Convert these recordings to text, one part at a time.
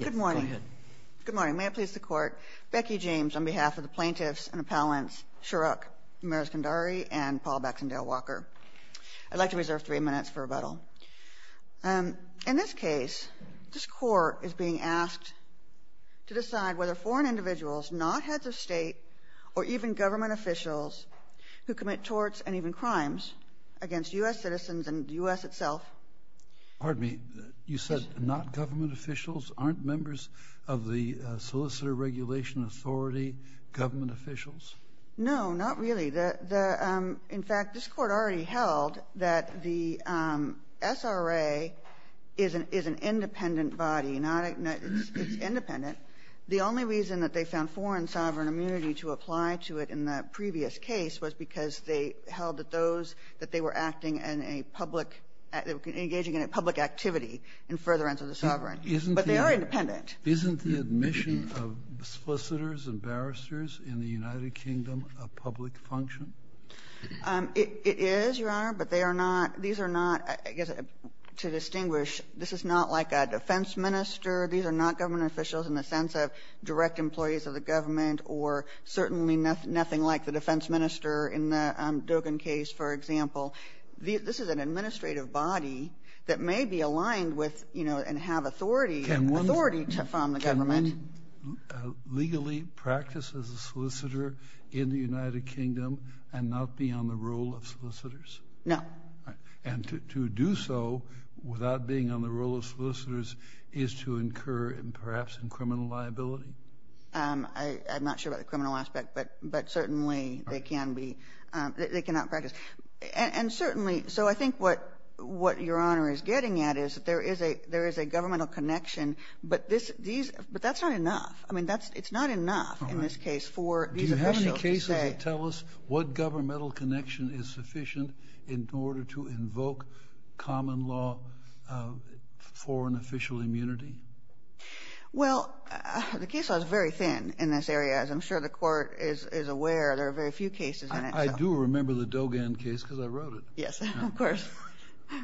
Good morning. May it please the court, Becky James on behalf of the plaintiffs and appellants Shrokh Mireskandari and Paul Baxendale-Walker. I'd like to reserve three minutes for rebuttal. In this case, this court is being asked to decide whether foreign individuals, not heads of state or even government officials who commit torts and even crimes against U.S. You said not government officials. Aren't members of the Solicitor Regulation Authority government officials? No, not really. In fact, this Court already held that the SRA is an independent body. It's independent. The only reason that they found foreign sovereign immunity to apply to it in the previous case was because they held that those, that they were acting in a public act, engaging in a public activity in furtherance of the sovereign. But they are independent. Isn't the admission of Solicitors and Barristers in the United Kingdom a public function? It is, Your Honor, but they are not. These are not, I guess, to distinguish, this is not like a defense minister. These are not government officials in the sense of direct employees of the government or certainly nothing like the defense minister in the Dogan case, for example. This is an administrative body that may be aligned with, you know, and have authority to form the government. Can one legally practice as a solicitor in the United Kingdom and not be on the role of solicitors? No. And to do so without being on the role of solicitors is to incur, perhaps, in criminal liability? I'm not sure about the criminal aspect, but certainly they can be, they cannot practice. And certainly, so I think what Your Honor is getting at is that there is a governmental connection, but that's not enough. I mean, it's not enough in this case for these officials to say... Do you have any cases that tell us what governmental connection is sufficient in order to invoke common law for an official immunity? Well, the case is very thin in this area, as I'm sure the Court is aware. There are very few cases in it. I do remember the Dogan case because I wrote it. Yes, of course.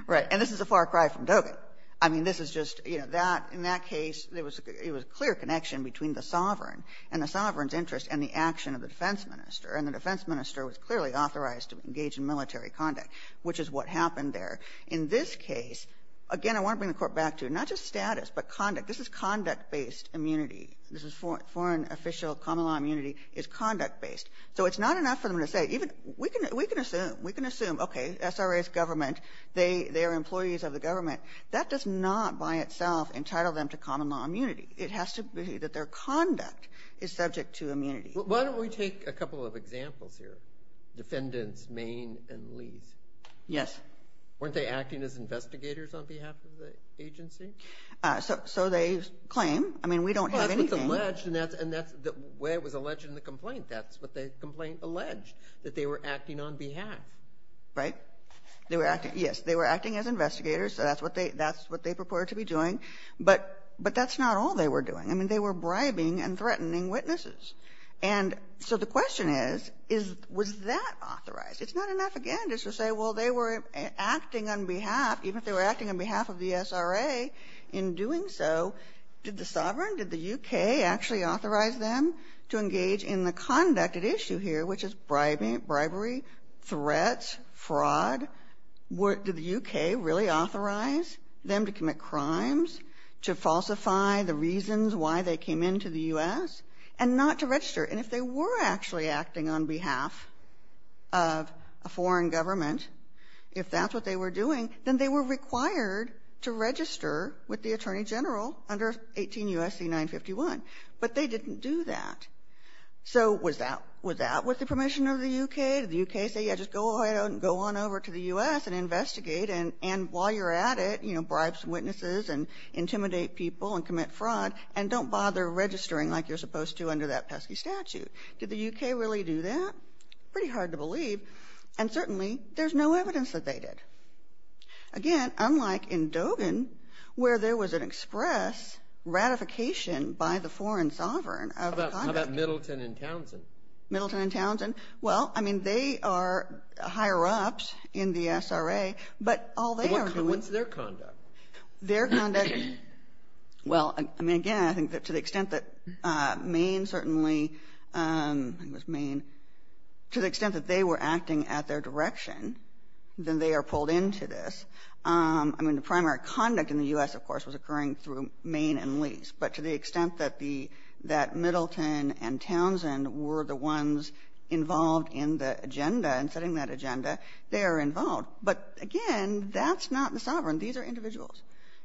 Right. And this is a far cry from Dogan. I mean, this is just, you know, that, in that case, it was a clear connection between the sovereign and the sovereign's interest and the action of the defense minister. And the defense minister was clearly authorized to engage in military conduct, which is what happened there. In this case, again, I want to bring the Court back to not just status, but conduct. This is conduct-based immunity. This is foreign official common law immunity is conduct-based. So it's not enough for them to say, even, we can assume, we can assume, okay, SRA's government, they are employees of the government. That does not, by itself, entitle them to common law immunity. It has to be that their conduct is subject to immunity. Why don't we take a couple of examples here? Defendants Main and Leath. Yes. Weren't they acting as investigators on behalf of the agency? So they claim. I mean, we don't have anything. Well, that's what's alleged, and that's the way it was alleged in the complaint. That's what the complaint alleged, that they were acting on behalf. Right. They were acting, yes. They were acting as investigators. So that's what they, that's what they purported to be doing. But, but that's not all they were doing. I mean, they were bribing and threatening witnesses. And so the question is, is, was that authorized? It's not enough, again, just to say, well, they were acting on behalf, even if they were acting on behalf of the SRA, in doing so, did the sovereign, did the U.K. actually authorize them to engage in the conduct at issue here, which is bribing, bribery, threats, fraud? Were, did the U.K. really authorize them to commit crimes, to falsify the reasons why they came into the U.S., and not to register? And if they were actually acting on behalf of a foreign government, if that's what they were doing, then they were required to register with the Attorney General under 18 U.S.C. 951. But they didn't do that. So was that, was that with the permission of the U.K.? Did the U.K. say, yeah, just go ahead and go on over to the U.S. and investigate, and, and while you're at it, you know, bribe some witnesses and intimidate people and commit fraud, and don't bother registering like you're supposed to under that pesky statute. Did the U.K. really do that? Pretty hard to believe. And certainly, there's no evidence that they did. Again, unlike in Dogan, where there was an express ratification by the foreign sovereign of the conduct. How about, how about Middleton and Townsend? Middleton and Townsend? Well, I mean, they are higher ups in the SRA, but all they are doing What's their conduct? Their conduct, well, I mean, again, I think that to the extent that Maine certainly, I think it was Maine, to the extent that they were acting at their direction, then they are pulled into this. I mean, the primary conduct in the U.S., of course, was occurring through Maine and Lease. But to the extent that the, that Middleton and Townsend were the ones involved in the agenda and setting that agenda, they are involved. But again, that's not the sovereign. These are individuals.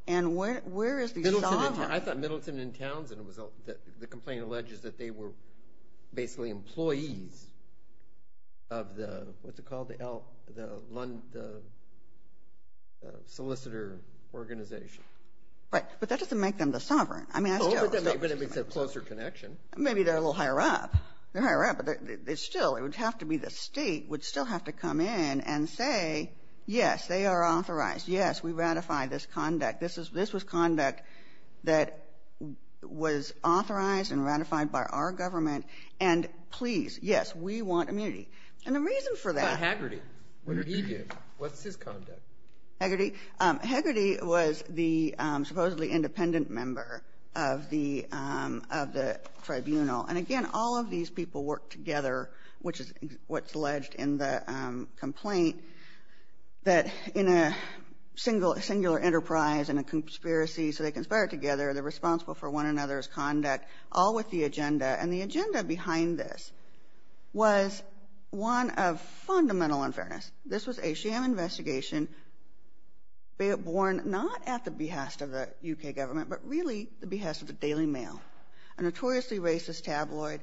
And where, where is the sovereign? I thought Middleton and Townsend was, the complaint alleges that they were basically employees of the, what's it called, the L, the Lund, the solicitor organization. Right. But that doesn't make them the sovereign. I mean, I still. But it makes a closer connection. Maybe they're a little higher up. They're higher up, but it's still, it would have to be the state would still have to come in and say, yes, they are authorized. Yes, we ratify this conduct. This is, this was conduct that was authorized and ratified by our government. And please, yes, we want immunity. And the reason for that. What about Hagerty? What did he do? What's his conduct? Hagerty? Hagerty was the supposedly independent member of the, of the tribunal. And again, all of these people worked together, which is what's alleged in the complaint, that in a single, singular enterprise and a conspiracy, so they conspired together, they're responsible for one another's conduct, all with the agenda. And the agenda behind this was one of fundamental unfairness. This was a sham investigation, born not at the behest of the UK government, but really the behest of the Daily Mail, a notoriously racist tabloid.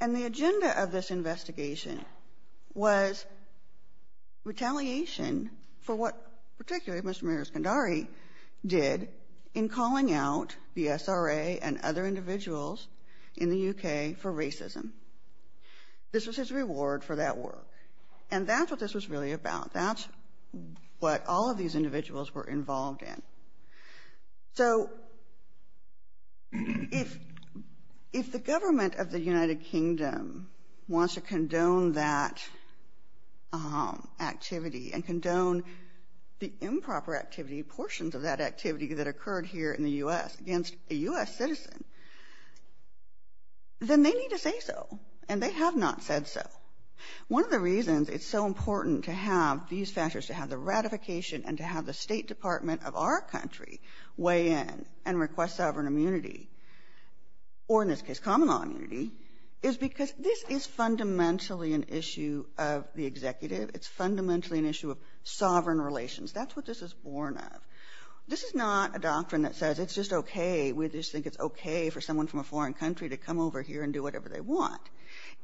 And the agenda of this investigation was retaliation for what particularly Mr. Miroskandari did in calling out the SRA and other individuals in the UK for racism. This was his reward for that work. And that's what this was really about. That's what all of these individuals were involved in. So if, if the government of the United Kingdom wants to condone that activity and condone the improper activity, portions of that activity that occurred here in the U.S. against a U.S. citizen, then they need to say so. And they have not said so. One of the reasons it's so important to have these factors, to have the ratification and to have the State Department of our country weigh in and request sovereign immunity, or in this case common law immunity, is because this is fundamentally an issue of the executive. It's fundamentally an issue of sovereign relations. That's what this is born of. This is not a doctrine that says it's just okay, we just think it's okay for someone from a foreign country to come over here and do whatever they want.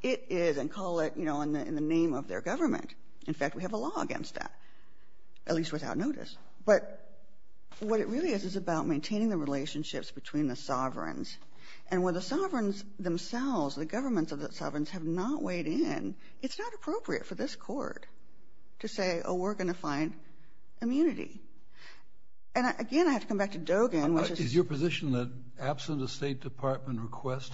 It is, and call it, you know, in the name of their government. In fact, we have a law against that. At least without notice. But what it really is, is about maintaining the relationships between the sovereigns. And when the sovereigns themselves, the governments of the sovereigns, have not weighed in, it's not appropriate for this Court to say, oh, we're going to find immunity. And again, I have to come back to Dogen, which is... Is your position that absent a State Department request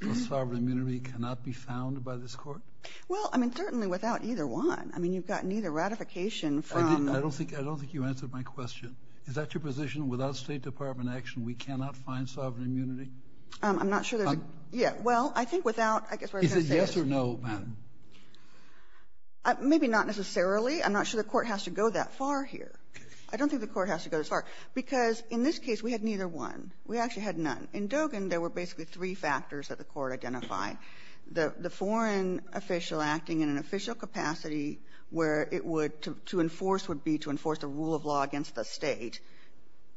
for sovereign immunity cannot be found by this Court? Well, I mean, certainly without either one. I mean, you've got neither ratification from... I don't think you answered my question. Is that your position? Without State Department action, we cannot find sovereign immunity? I'm not sure there's a... Yeah. Well, I think without... I guess what I was going to say is... Is it yes or no, madam? Maybe not necessarily. I'm not sure the Court has to go that far here. I don't think the Court has to go that far. Because in this case, we had neither one. We actually had none. In Dogen, there were basically three factors that the Court identified. The foreign official acting in an official capacity where it would to enforce would be to enforce the rule of law against the State,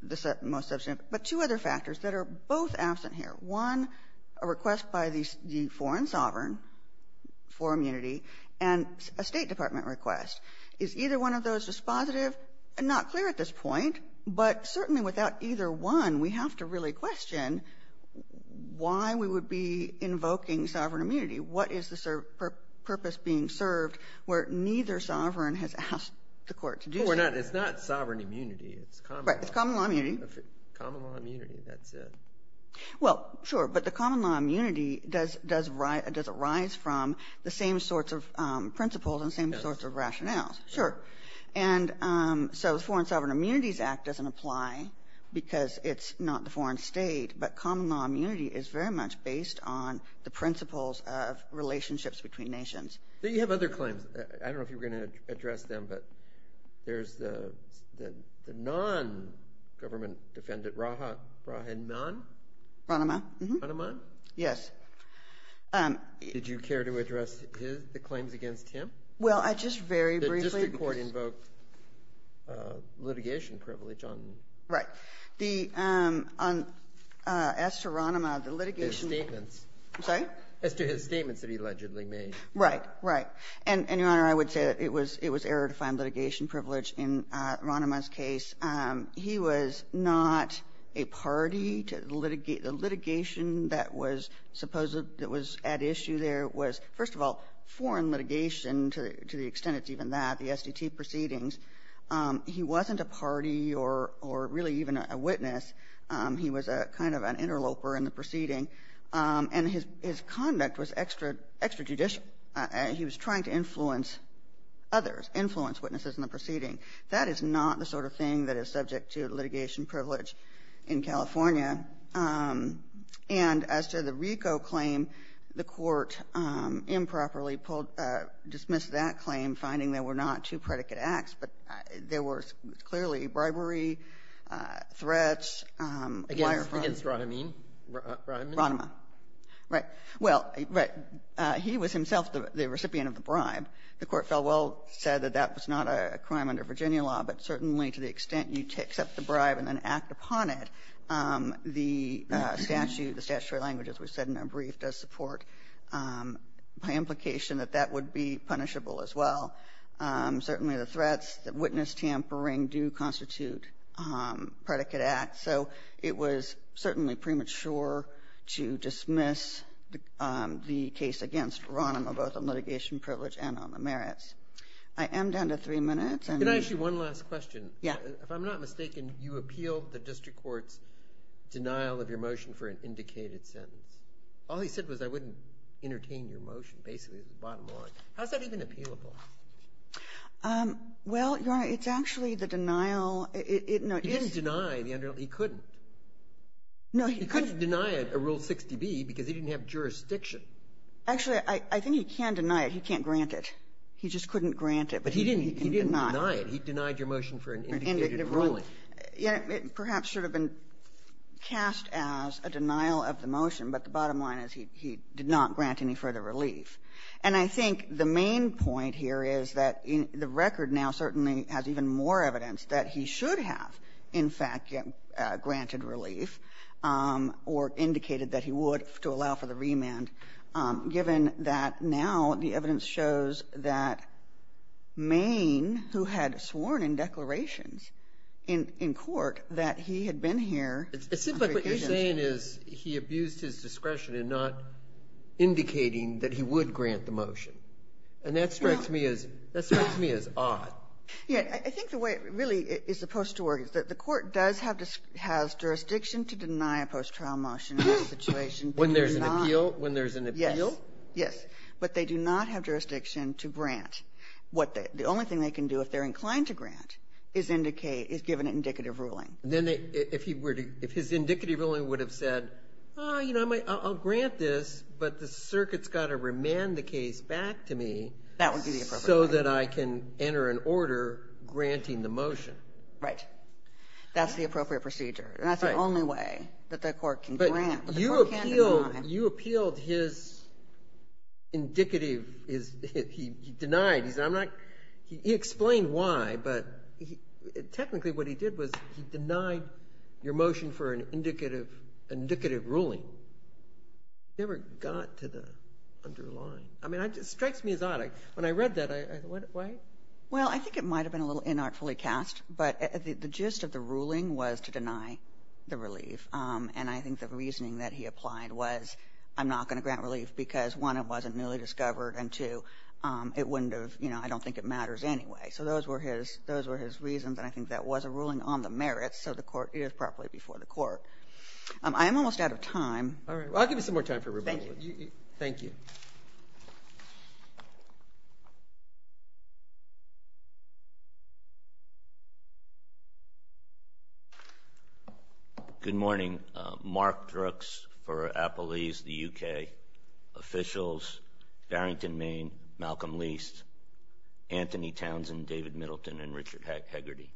the most substantive. But two other factors that are both absent here, one, a request by the foreign sovereign for immunity, and a State Department request. Is either one of those dispositive? Not clear at this point. But certainly without either one, we have to really question why we would be invoking sovereign immunity. What is the purpose being served where neither sovereign has asked the Court to do so? Well, it's not sovereign immunity. It's common law. Right. It's common law immunity. Common law immunity. That's it. Well, sure. But the common law immunity, does it rise from the same sorts of principles and same sorts of rationales? Sure. And so the Foreign Sovereign Immunities Act doesn't apply because it's not the foreign State, but common law immunity is very much based on the principles of relationships between nations. But you have other claims. I don't know if you were going to address them, but there's the non-government defendant, Rahat Brahinman. Rahat Brahinman. Yes. Did you care to address the claims against him? Well, I just very briefly... The district court invoked litigation privilege on... Right. ...as to his statements that he allegedly made. Right. Right. And, Your Honor, I would say it was error-defined litigation privilege in Rahnemann's case. He was not a party to the litigation that was at issue there was, first of all, foreign litigation to the extent it's even that, the SDT proceedings. He wasn't a party or really even a witness. He was kind of an interloper in the proceeding. And his conduct was extrajudicial. He was trying to influence others, influence witnesses in the proceeding. That is not the sort of thing that is subject to litigation privilege in California. And as to the RICO claim, the Court improperly dismissed that claim, finding there were not two predicate acts, but there was clearly bribery, threats, wire fraud. Against Rahnemann? Rahnemann. Rahnemann. Right. Well, he was himself the recipient of the bribe. The Court fell well, said that that was not a crime under Virginia law, but certainly to the extent you accept the bribe and then act upon it, the statute, the statutory language, as we said in our brief, does support my implication that that would be punishable as well. Certainly the threats, the witness tampering do constitute predicate acts. So it was certainly premature to dismiss the case against Rahnemann, both on litigation privilege and on the merits. I am down to three minutes. And the ---- Can I ask you one last question? Yes. If I'm not mistaken, you appealed the district court's denial of your motion for an indicated sentence. All he said was I wouldn't entertain your motion, basically, the bottom line. How is that even appealable? Well, Your Honor, it's actually the denial ---- He didn't deny the ---- he couldn't. No, he couldn't. He couldn't deny a Rule 60b because he didn't have jurisdiction. Actually, I think he can deny it. He can't grant it. He just couldn't grant it. But he didn't deny it. He denied your motion for an indicated ruling. It perhaps should have been cast as a denial of the motion, but the bottom line is he did not grant any further relief. And I think the main point here is that the record now certainly has even more evidence that he should have, in fact, granted relief or indicated that he would to allow for the remand, given that now the evidence shows that Maine, who had sworn in declarations in court, that he had been here on three occasions. It seems like what you're saying is he abused his discretion in not indicating that he would grant the motion. And that strikes me as odd. Yeah. I think the way it really is supposed to work is that the court does have jurisdiction to deny a post-trial motion in this situation. When there's an appeal? When there's an appeal? Yes. But they do not have jurisdiction to grant. The only thing they can do if they're inclined to grant is indicate ---- is give an indicative ruling. Then if he were to ---- if his indicative ruling would have said, you know, I'll grant this, but the circuit's got to remand the case back to me so that I can enter an order granting the motion. Right. That's the appropriate procedure. Right. And that's the only way that the court can grant, but the court can't deny. But you appealed his indicative, his ---- he denied. He said, I'm not ---- he explained why, but technically what he did was he denied your motion for an indicative ruling. So it never got to the underlying. I mean, it strikes me as odd. When I read that, I ---- why? Well, I think it might have been a little inartfully cast, but the gist of the ruling was to deny the relief, and I think the reasoning that he applied was, I'm not going to grant relief because, one, it wasn't newly discovered, and, two, it wouldn't have ---- you know, I don't think it matters anyway. So those were his ---- those were his reasons, and I think that was a ruling on the merits, so the court is properly before the court. I am almost out of time. All right. Well, I'll give you some more time for rebuttal. Thank you. Thank you. Good morning. Mark Brooks for Appalese, the U.K., officials, Farrington, Maine, Malcolm Least, Anthony Townsend, David Middleton, and Richard Hegarty.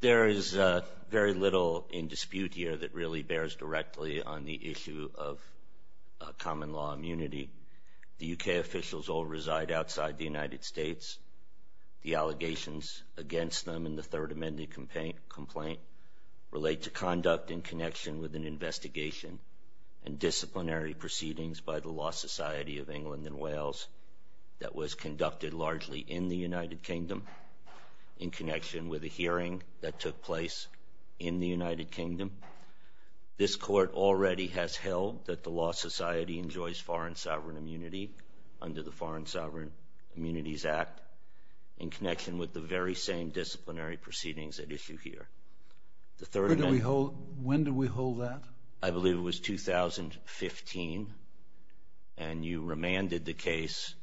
There is very little in dispute here that really bears directly on the issue of common law immunity. The U.K. officials all reside outside the United States. The allegations against them in the Third Amendment complaint relate to conduct in connection with an investigation and disciplinary proceedings by the Law Society of England and Wales that was conducted largely in the United Kingdom in connection with a hearing that took place in the United Kingdom. This court already has held that the Law Society enjoys foreign sovereign immunity under the Foreign Sovereign Immunities Act in connection with the very same disciplinary proceedings at issue here. The Third Amendment ---- When did we hold that? I believe it was 2015, and you remanded the case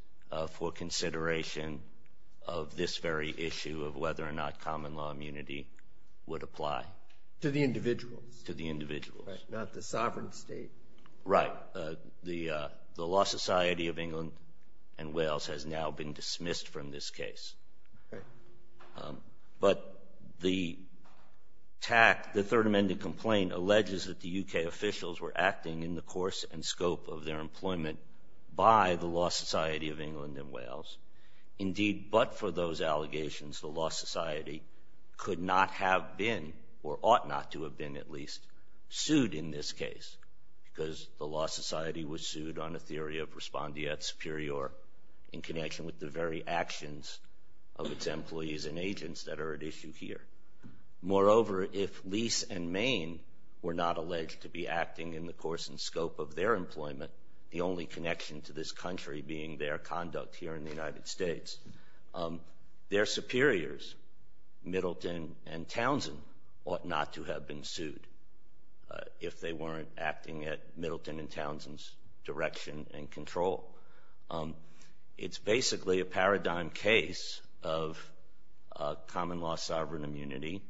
for consideration of this very issue of whether or not common law immunity would apply. To the individuals. To the individuals. Not the sovereign state. Right. The Law Society of England and Wales has now been dismissed from this case. Okay. But the third amendment complaint alleges that the U.K. officials were acting in the course and scope of their employment by the Law Society of England and Wales. Indeed, but for those allegations, the Law Society could not have been, or ought not to have been at least, sued in this case because the Law Society was sued on a theory of respondeat superior in connection with the very actions of its employees and agents that are at issue here. Moreover, if Lease and Main were not alleged to be acting in the course and scope of their employment, the only connection to this country being their conduct here in the United States, their superiors, Middleton and Townsend, ought not to have been sued if they weren't acting at Middleton and Control. It's basically a paradigm case of common law sovereign immunity.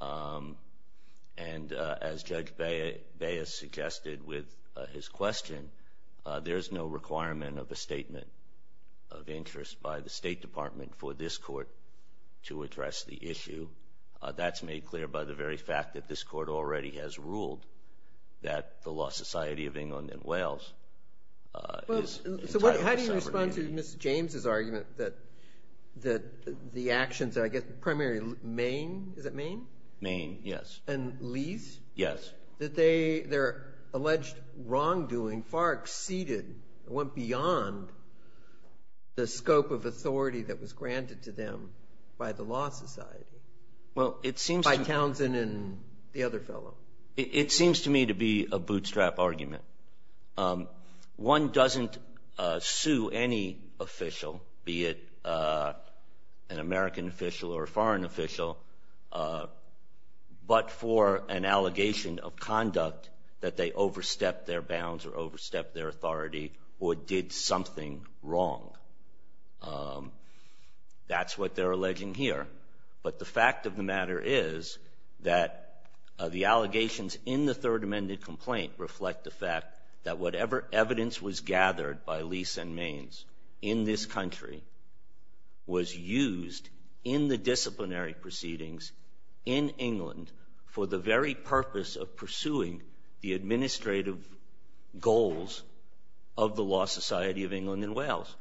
And as Judge Baez suggested with his question, there's no requirement of a statement of interest by the State Department for this court to address the issue. That's made clear by the very fact that this court already has ruled that the Law Society of England and Wales is entitled to sovereign immunity. So how do you respond to Mr. James's argument that the actions, I guess, primarily Main, is it Main? Main, yes. And Lease? Yes. That their alleged wrongdoing far exceeded, went beyond the scope of authority that was granted to them by the Law Society. Well, it seems to- By Townsend and the other fellow. It seems to me to be a bootstrap argument. One doesn't sue any official, be it an American official or a foreign official, but for an allegation of conduct that they overstepped their bounds or overstepped their authority or did something wrong. That's what they're alleging here. But the fact of the matter is that the allegations in the third amended complaint reflect the fact that whatever evidence was gathered by Lease and Main in this country was used in the disciplinary proceedings in England for the very purpose of pursuing the administrative goals of the Law Society of England and Wales,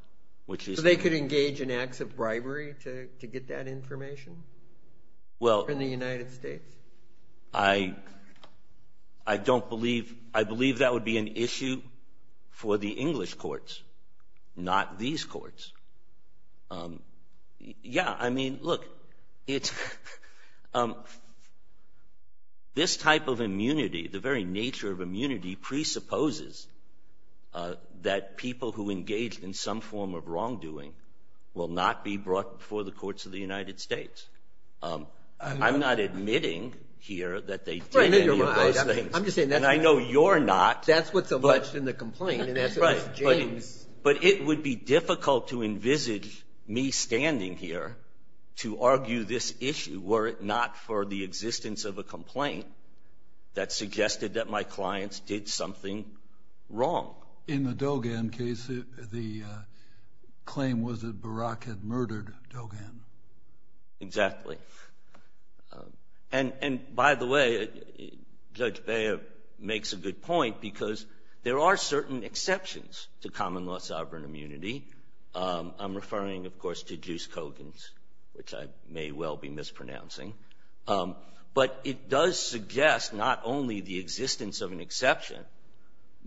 which is- Did they engage in acts of bribery to get that information in the United States? I don't believe- I believe that would be an issue for the English courts, not these courts. Yeah, I mean, look, this type of immunity, the very nature of immunity, presupposes that people who engaged in some form of wrongdoing will not be brought before the courts of the United States. I'm not admitting here that they did any of those things. I'm just saying that's- And I know you're not, but- That's what's alleged in the complaint, and that's what Ms. James- But it would be difficult to envisage me standing here to argue this issue were it not for the existence of a complaint that suggested that my clients did something wrong. In the Dogan case, the claim was that Barack had murdered Dogan. Exactly. And by the way, Judge Baird makes a good point because there are certain exceptions to common law sovereign immunity. I'm referring, of course, to Juice Kogan's, which I may well be mispronouncing. But it does suggest not only the existence of an exception,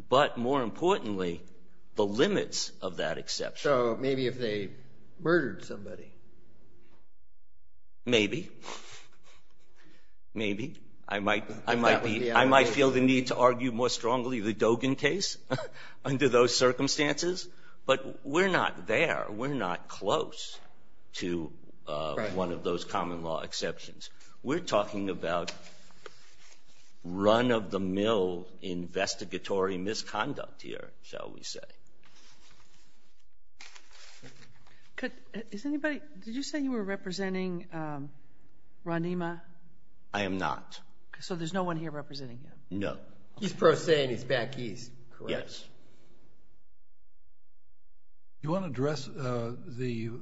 but more importantly, the limits of that exception. So maybe if they murdered somebody. Maybe. Maybe. I might feel the need to argue more strongly the Dogan case under those circumstances. But we're not there. We're not close to one of those common law exceptions. We're talking about run-of-the-mill investigatory misconduct here, shall we say. Could, is anybody, did you say you were representing Ron Nima? I am not. So there's no one here representing him? No. He's pro se, and he's back east, correct? Yes. Do you want to address the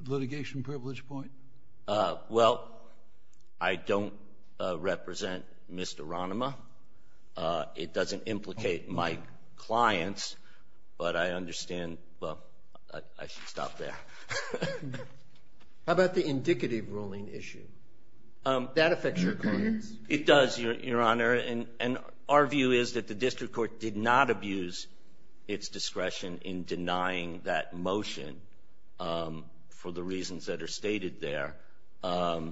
litigation privilege point? Well, I don't represent Mr. Ron Nima. It doesn't implicate my clients. But I understand, well, I should stop there. How about the indicative ruling issue? That affects your clients. It does, Your Honor. And our view is that the district court did not that motion for the reasons that are stated there. All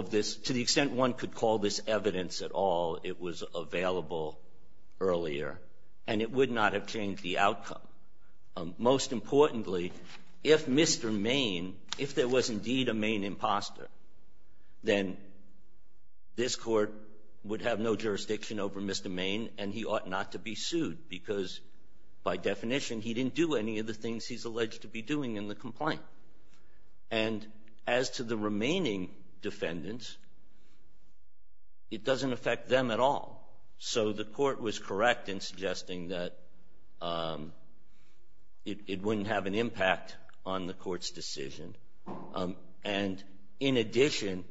of this, to the extent one could call this evidence at all, it was available earlier. And it would not have changed the outcome. Most importantly, if Mr. Main, if there was indeed a Main imposter, then this court would have no jurisdiction over Mr. Main, and he ought not to be sued, because by definition, he didn't do any of the things he's alleged to be doing in the complaint. And as to the remaining defendants, it doesn't affect them at all. So the court was correct in suggesting that it wouldn't have an impact on the court's decision. And in addition,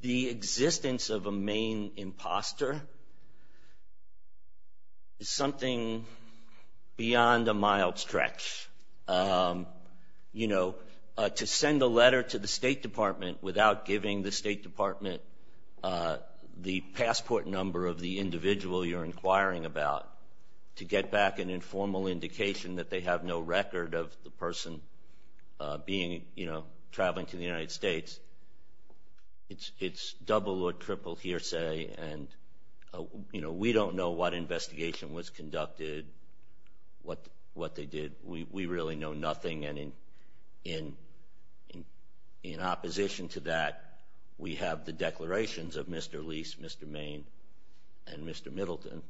the existence of a Main imposter is something beyond a mild stretch. You know, to send a letter to the State Department without giving the State Department the passport number of the individual you're inquiring about to get back an informal indication that they have no record of the person traveling to the United States, it's double or triple hearsay. And we don't know what investigation was conducted, what they did. We really know nothing. And in opposition to that, we have the declarations of Mr. Lease, Mr. Main, and Mr. Middleton.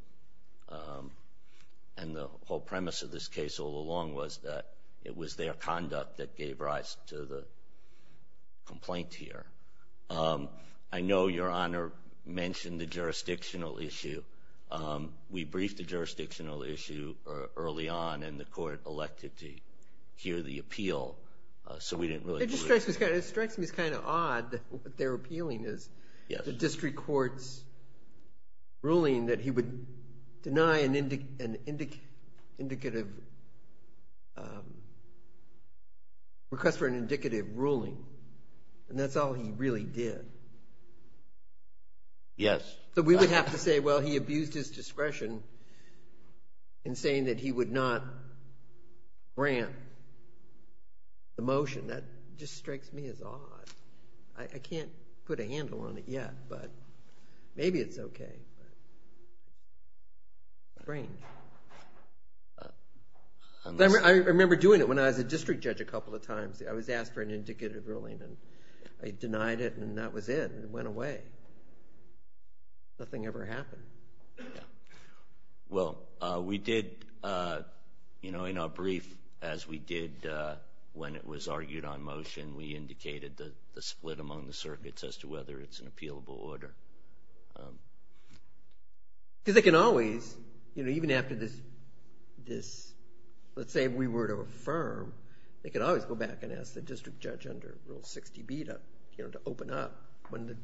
And the whole premise of this case all along was that it was their conduct that gave rise to the complaint here. I know Your Honor mentioned the jurisdictional issue. We briefed the jurisdictional issue early on, and the court elected to hear the appeal. So we didn't really hear it. It strikes me as kind of odd what they're appealing is. The district court's ruling that he would deny a request for an indicative ruling, and that's all he really did. Yes. So we would have to say, well, he abused his discretion in saying that he would not grant the motion. That just strikes me as odd. I can't put a handle on it yet, but maybe it's OK. Strange. I remember doing it when I was a district judge a couple of times. I was asked for an indicative ruling, and I denied it, and that was it. It went away. Nothing ever happened. Well, we did, in our brief, as we did when it was argued on motion, and we indicated the split among the circuits as to whether it's an appealable order. Because they can always, even after this, let's say we were to affirm, they could always go back and ask the district judge under Rule 60B to open up when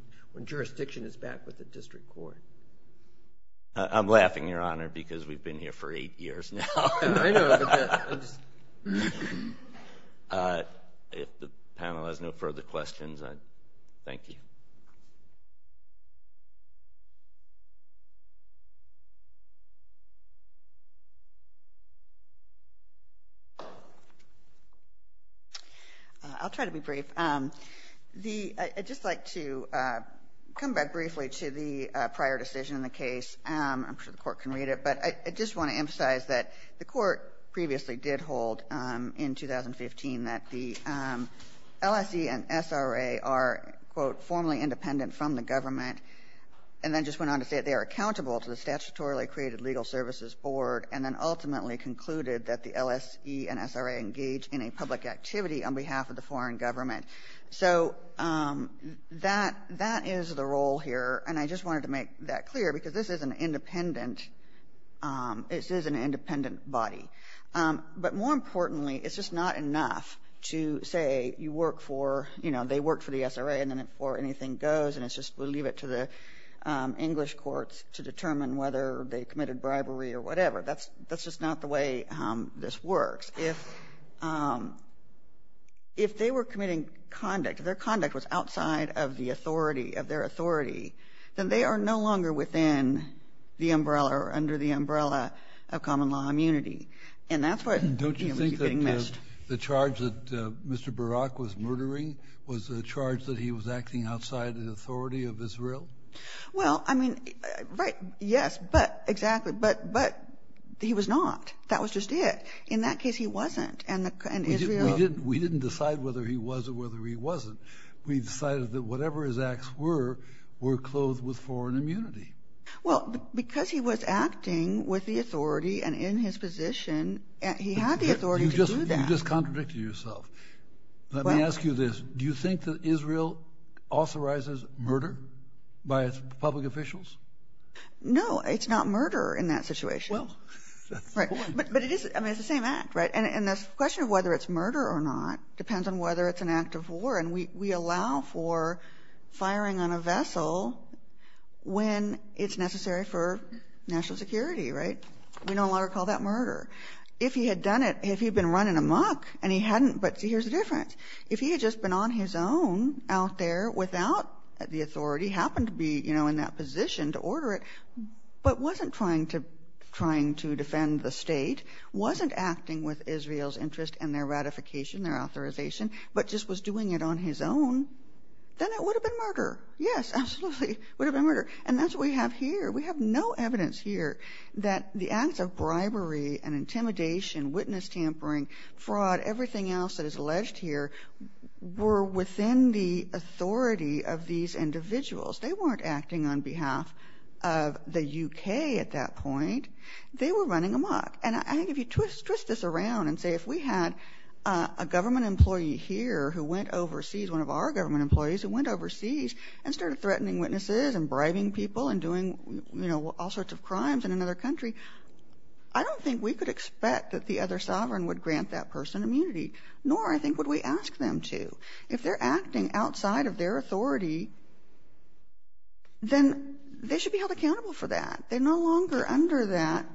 jurisdiction is back with the district court. I'm laughing, Your Honor, because we've been here for eight years now. I know. I'm just. If the panel has no further questions, I thank you. I'll try to be brief. I'd just like to come back briefly to the prior decision in the case. I'm sure the court can read it, but I just want to emphasize that the court previously did hold, in 2015, that the LSE and SRA are, quote, formally independent from the government, and then just went on to say that they are accountable to the statutorily created legal services board, and then ultimately concluded that the LSE and SRA engage in a public activity on behalf of the foreign government. So that is the role here, and I just wanted to make that clear, because this is an independent This is an independent body. But more importantly, it's just not enough to say, you work for, you know, they work for the SRA, and then before anything goes, and it's just, we'll leave it to the English courts to determine whether they committed bribery or whatever. That's just not the way this works. If they were committing conduct, their conduct was outside of the authority, of their authority, then they are no longer within the umbrella or under the umbrella of common law immunity. And that's where we keep getting missed. The charge that Mr. Barak was murdering was a charge that he was acting outside the authority of Israel? Well, I mean, right, yes, but exactly, but he was not. That was just it. In that case, he wasn't. And Israel We didn't decide whether he was or whether he wasn't. We decided that whatever his acts were, were clothed with foreign immunity. Well, because he was acting with the authority and in his position, he had the authority to do that. You just contradicted yourself. Let me ask you this. Do you think that Israel authorizes murder by its public officials? No, it's not murder in that situation. Well, that's the point. But it is, I mean, it's the same act, right? And the question of whether it's murder or not depends on whether it's an act of war. And we allow for firing on a vessel when it's necessary for national security, right? We don't allow to call that murder. If he had done it, if he'd been running amok, and he hadn't, but see, here's the difference. If he had just been on his own out there without the authority, happened to be in that position to order it, but wasn't trying to defend the state, wasn't acting with Israel's interest and their ratification, their authorization, but just was doing it on his own, then it would have been murder. Yes, absolutely, would have been murder. And that's what we have here. We have no evidence here that the acts of bribery and intimidation, witness tampering, fraud, everything else that is alleged here were within the authority of these individuals. They weren't acting on behalf of the UK at that point. They were running amok. And I think if you twist this around and say, if we had a government employee here who went overseas, one of our government employees who went overseas and started threatening witnesses and bribing people and doing all sorts of crimes in another country, I don't think we could expect that the other sovereign would grant that person immunity, nor I think would we ask them to. If they're acting outside of their authority, then they should be held accountable for that. They're no longer under that.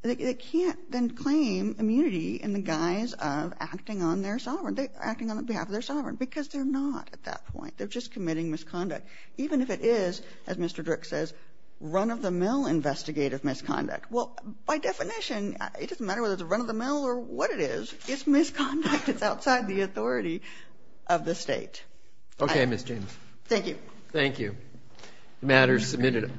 They can't then claim immunity in the guise of acting on their sovereign, acting on behalf of their sovereign, because they're not at that point. They're just committing misconduct. Even if it is, as Mr. Drick says, run-of-the-mill investigative misconduct. Well, by definition, it doesn't matter whether it's a run-of-the-mill or what it is, it's misconduct. It's outside the authority of the state. Okay, Ms. James. Thank you. Thank you. The matter is submitted.